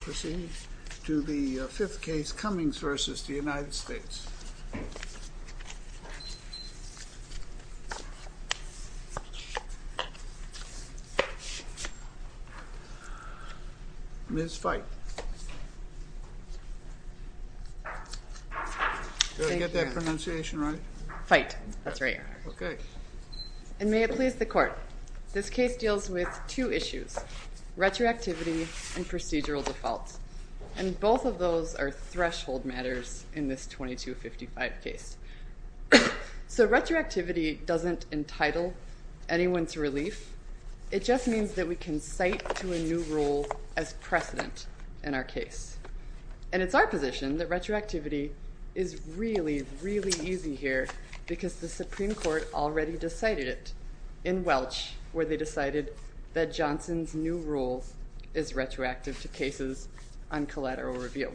Proceeding to the fifth case, Cummings v. United States. Ms. Fite. Did I get that pronunciation right? Fite, that's right. And may it please the court, this case deals with two issues, retroactivity and procedural defaults. And both of those are threshold matters in this 2255 case. So retroactivity doesn't entitle anyone to relief, it just means that we can cite to a new rule as precedent in our case. And it's our position that retroactivity is really, really easy here because the Supreme Court already decided it in Welch, where they decided that Johnson's new rule is retroactive to cases on collateral review.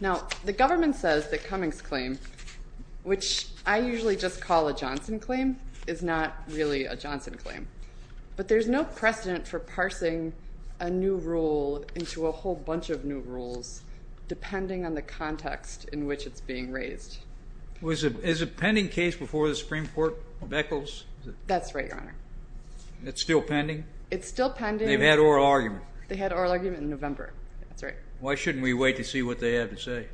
Now, the government says that Cummings' claim, which I usually just call a Johnson claim, is not really a Johnson claim. But there's no precedent for parsing a new rule into a whole bunch of new rules, depending on the context in which it's being raised. Is it a pending case before the Supreme Court of Echols? That's right, Your Honor. It's still pending? It's still pending. They've had oral argument. They had oral argument in November, that's right. Why shouldn't we wait to see what they have to say?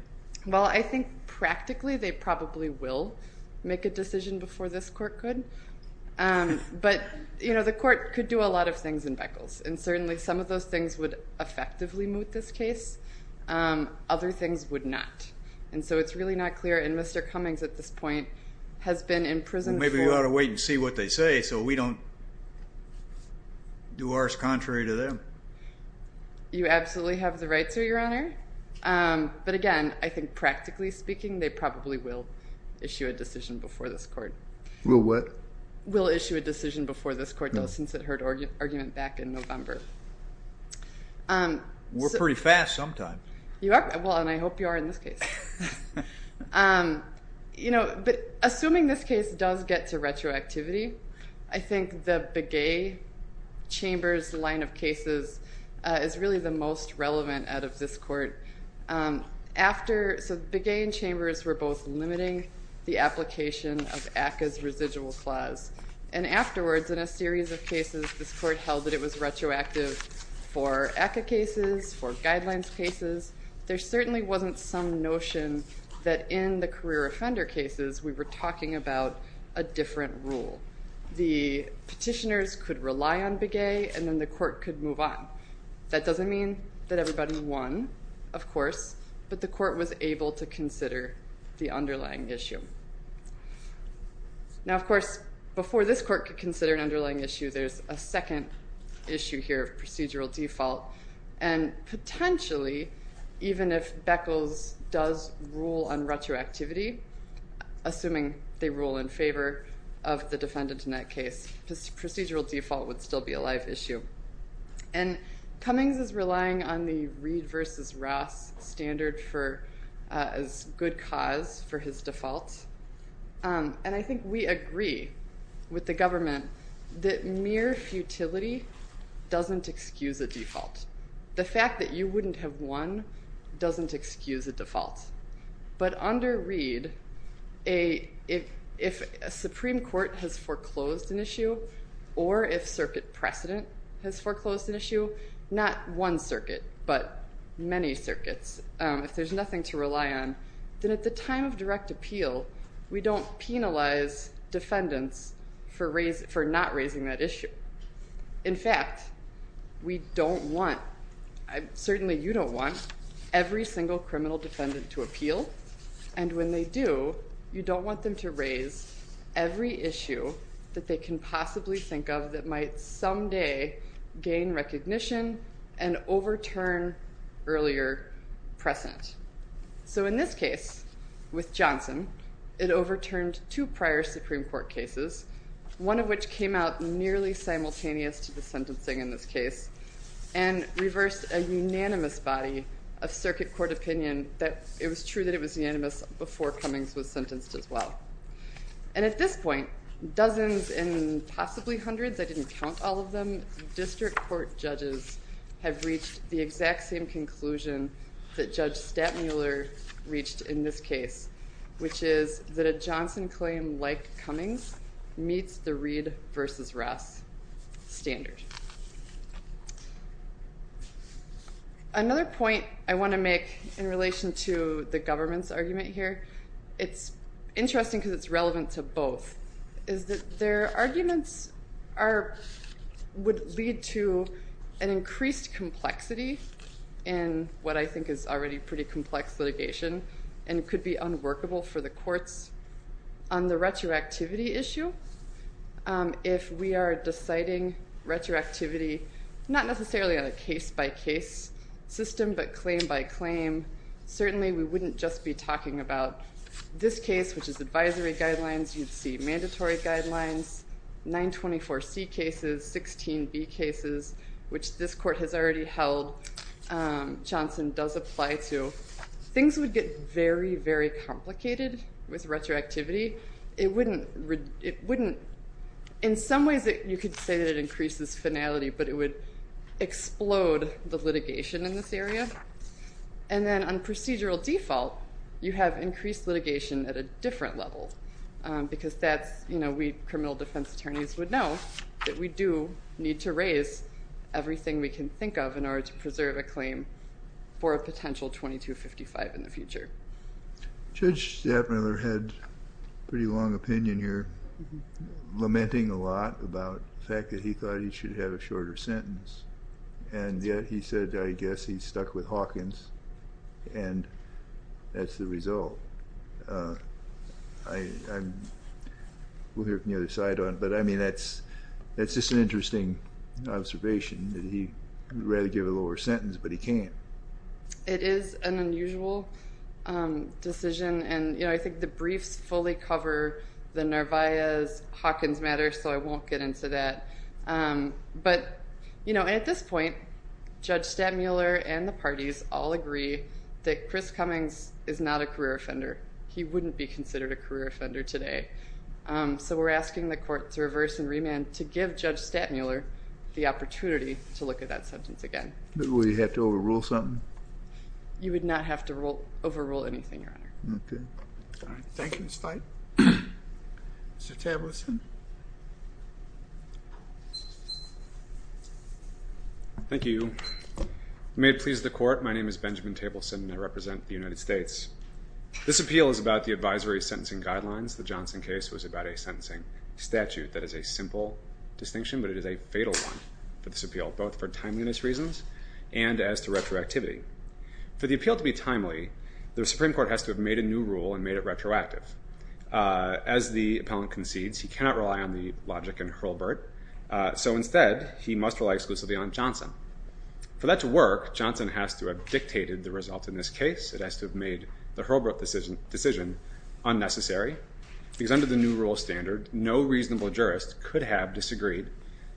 Well, I think practically they probably will make a decision before this court could. But, you know, the court could do a lot of things in Echols, and certainly some of those things would effectively moot this case, other things would not. And so it's really not clear, and Mr. Cummings at this point has been in prison for we ought to wait and see what they say so we don't do ours contrary to them. You absolutely have the right to, Your Honor. But, again, I think practically speaking they probably will issue a decision before this court. Will what? Will issue a decision before this court does since it heard argument back in November. We're pretty fast sometimes. You are? Well, and I hope you are in this case. You know, assuming this case does get to retroactivity, I think the Begay-Chambers line of cases is really the most relevant out of this court. So Begay and Chambers were both limiting the application of ACCA's residual clause. And afterwards in a series of cases this court held that it was retroactive for ACCA cases, for guidelines cases, there certainly wasn't some notion that in the career offender cases we were talking about a different rule. The petitioners could rely on Begay and then the court could move on. That doesn't mean that everybody won, of course, but the court was able to consider the underlying issue. Now, of course, before this court could consider an underlying issue, there's a second issue here of procedural default. And potentially, even if Beckles does rule on retroactivity, assuming they rule in favor of the defendant in that case, procedural default would still be a live issue. And Cummings is relying on the Reed versus Ross standard as good cause for his default. And I think we agree with the government that mere futility doesn't excuse a default. The fact that you wouldn't have won doesn't excuse a default. But under Reed, if a Supreme Court has foreclosed an issue or if circuit precedent has foreclosed an issue, not one circuit, but many circuits, if there's nothing to rely on, then at the time of direct appeal, we don't penalize defendants for not raising that issue. In fact, we don't want, certainly you don't want, every single criminal defendant to appeal. And when they do, you don't want them to raise every issue that they can possibly think of that might someday gain recognition and overturn earlier precedent. So in this case, with Johnson, it overturned two prior Supreme Court cases, one of which came out nearly simultaneous to the sentencing in this case, and reversed a unanimous body of circuit court opinion that it was true that it was unanimous before Cummings was sentenced as well. And at this point, dozens and possibly hundreds, I didn't count all of them, district court judges have reached the exact same conclusion that Judge Stattmuller reached in this case, which is that a Johnson claim like Cummings meets the Reed v. Ross standard. Another point I want to make in relation to the government's argument here, it's interesting because it's relevant to both, is that their arguments would lead to an increased complexity in what I think is already pretty complex litigation and could be unworkable for the courts on the retroactivity issue. If we are deciding retroactivity, not necessarily on a case-by-case system, but claim-by-claim, certainly we wouldn't just be talking about this case, which is advisory guidelines, you'd see mandatory guidelines, 924C cases, 16B cases, which this court has already held Johnson does apply to. Things would get very, very complicated with retroactivity. It wouldn't, in some ways you could say that it increases finality, but it would explode the litigation in this area. And then on procedural default, you have increased litigation at a different level because that's, you know, we criminal defense attorneys would know that we do need to raise everything we can think of in order to preserve a claim for a potential 2255 in the future. Judge Stattmuller had a pretty long opinion here, lamenting a lot about the fact that he thought he should have a shorter sentence. And yet he said, I guess he's stuck with Hawkins, and that's the result. We'll hear from the other side on it. But, I mean, that's just an interesting observation that he would rather give a lower sentence, but he can't. It is an unusual decision, and, you know, I think the briefs fully cover the Narvaez-Hawkins matter, so I won't get into that. But, you know, at this point, Judge Stattmuller and the parties all agree that Chris Cummings is not a career offender. He wouldn't be considered a career offender today. So we're asking the court to reverse and remand to give Judge Stattmuller the opportunity to look at that sentence again. But would he have to overrule something? You would not have to overrule anything, Your Honor. Okay. Thank you, Ms. Knight. Mr. Tableson. Thank you. May it please the court, my name is Benjamin Tableson, and I represent the United States. This appeal is about the advisory sentencing guidelines. The Johnson case was about a sentencing statute that is a simple distinction, but it is a fatal one for this appeal, both for timeliness reasons and as to retroactivity. For the appeal to be timely, the Supreme Court has to have made a new rule and made it retroactive. As the appellant concedes, he cannot rely on the logic in Hurlburt, so instead he must rely exclusively on Johnson. For that to work, Johnson has to have dictated the result in this case. It has to have made the Hurlburt decision unnecessary because under the new rule standard, no reasonable jurist could have disagreed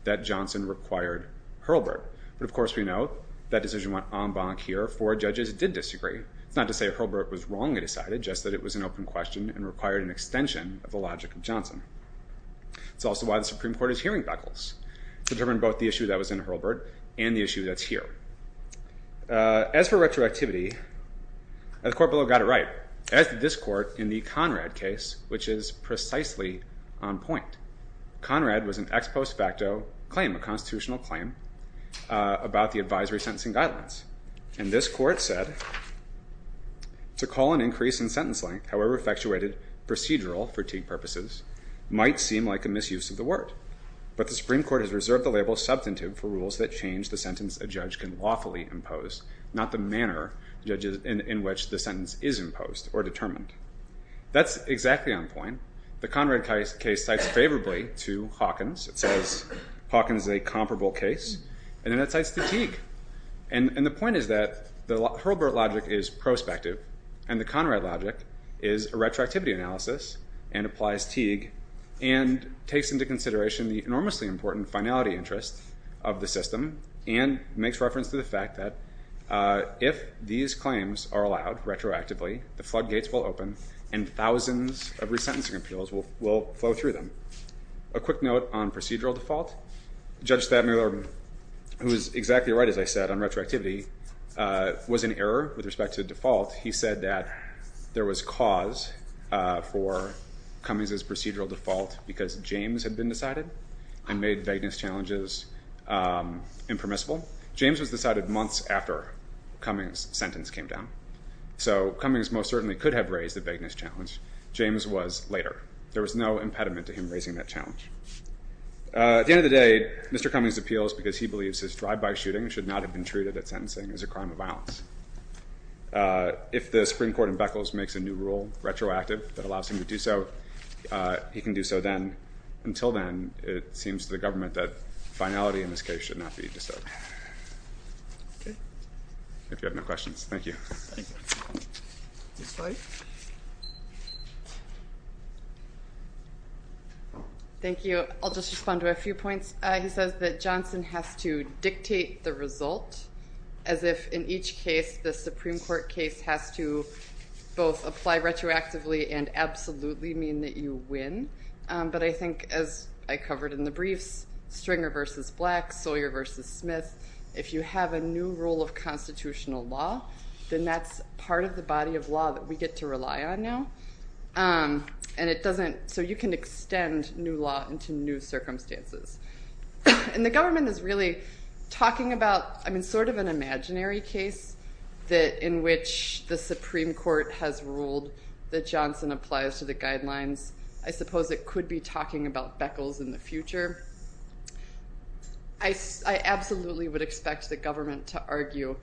that Johnson required Hurlburt. But of course we know that decision went en banc here for judges who did disagree. It's not to say Hurlburt was wrongly decided, just that it was an open question and required an extension of the logic of Johnson. It's also why the Supreme Court is hearing buckles to determine both the issue that was in Hurlburt and the issue that's here. As for retroactivity, the court below got it right. As did this court in the Conrad case, which is precisely on point. Conrad was an ex post facto claim, a constitutional claim, about the advisory sentencing guidelines. And this court said, to call an increase in sentence length, however effectuated procedural fatigue purposes, might seem like a misuse of the word. But the Supreme Court has reserved the label substantive for rules that change the sentence a judge can lawfully impose, not the manner in which the sentence is imposed or determined. That's exactly on point. The Conrad case cites favorably to Hawkins. It says Hawkins is a comparable case. And then it cites Teague. And the point is that the Hurlburt logic is prospective, and the Conrad logic is a retroactivity analysis and applies Teague and takes into consideration the enormously important finality interest of the system and makes reference to the fact that if these claims are allowed retroactively, the floodgates will open and thousands of resentencing appeals will flow through them. A quick note on procedural default. Judge Thad Miller, who is exactly right, as I said, on retroactivity, was in error with respect to default. He said that there was cause for Cummings' procedural default because James had been decided and made vagueness challenges impermissible. James was decided months after Cummings' sentence came down. So Cummings most certainly could have raised the vagueness challenge. James was later. There was no impediment to him raising that challenge. At the end of the day, Mr. Cummings' appeals, because he believes his drive-by shooting should not have been treated at sentencing, is a crime of violence. If the Supreme Court in Beckles makes a new rule, retroactive, that allows him to do so, he can do so then. Until then, it seems to the government that finality in this case should not be disturbed. If you have no questions. Thank you. Next slide. Thank you. I'll just respond to a few points. He says that Johnson has to dictate the result, as if in each case, the Supreme Court case has to both apply retroactively and absolutely mean that you win. But I think, as I covered in the briefs, Stringer v. Black, Sawyer v. Smith, if you have a new rule of constitutional law, then that's part of the body of law that we get to rely on now. So you can extend new law into new circumstances. And the government is really talking about sort of an imaginary case in which the Supreme Court has ruled that Johnson applies to the guidelines. I suppose it could be talking about Beckles in the future. I absolutely would expect the government to argue,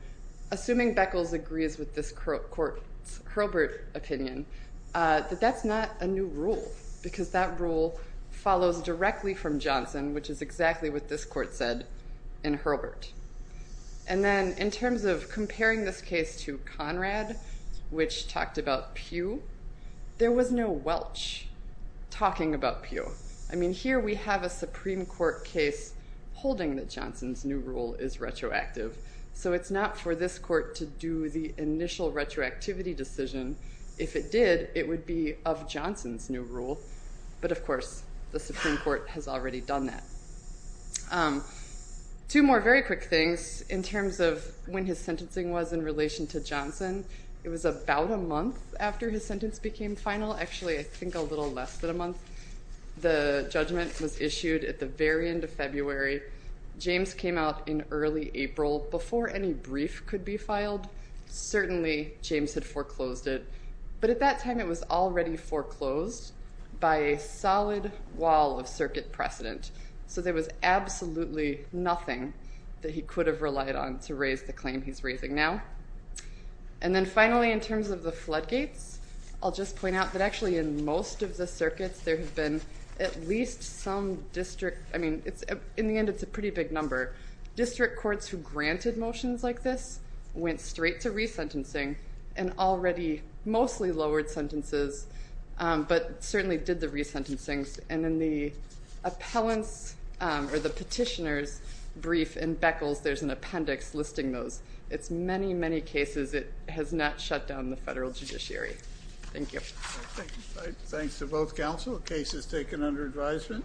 assuming Beckles agrees with this court's Hurlburt opinion, that that's not a new rule because that rule follows directly from Johnson, which is exactly what this court said in Hurlburt. And then in terms of comparing this case to Conrad, which talked about Pew, there was no Welch talking about Pew. I mean, here we have a Supreme Court case holding that Johnson's new rule is retroactive. So it's not for this court to do the initial retroactivity decision. If it did, it would be of Johnson's new rule. But, of course, the Supreme Court has already done that. Two more very quick things in terms of when his sentencing was in relation to Johnson. It was about a month after his sentence became final. Actually, I think a little less than a month. The judgment was issued at the very end of February. James came out in early April. Before any brief could be filed, certainly James had foreclosed it. But at that time, it was already foreclosed by a solid wall of circuit precedent. So there was absolutely nothing that he could have relied on to raise the claim he's raising now. And then finally, in terms of the floodgates, I'll just point out that actually in most of the circuits, there have been at least some district. I mean, in the end, it's a pretty big number. District courts who granted motions like this went straight to resentencing and already mostly lowered sentences but certainly did the resentencings. And in the appellant's or the petitioner's brief in Beckles, there's an appendix listing those. It's many, many cases. It has not shut down the federal judiciary. Thank you. Thanks to both counsel. The case is taken under advisement.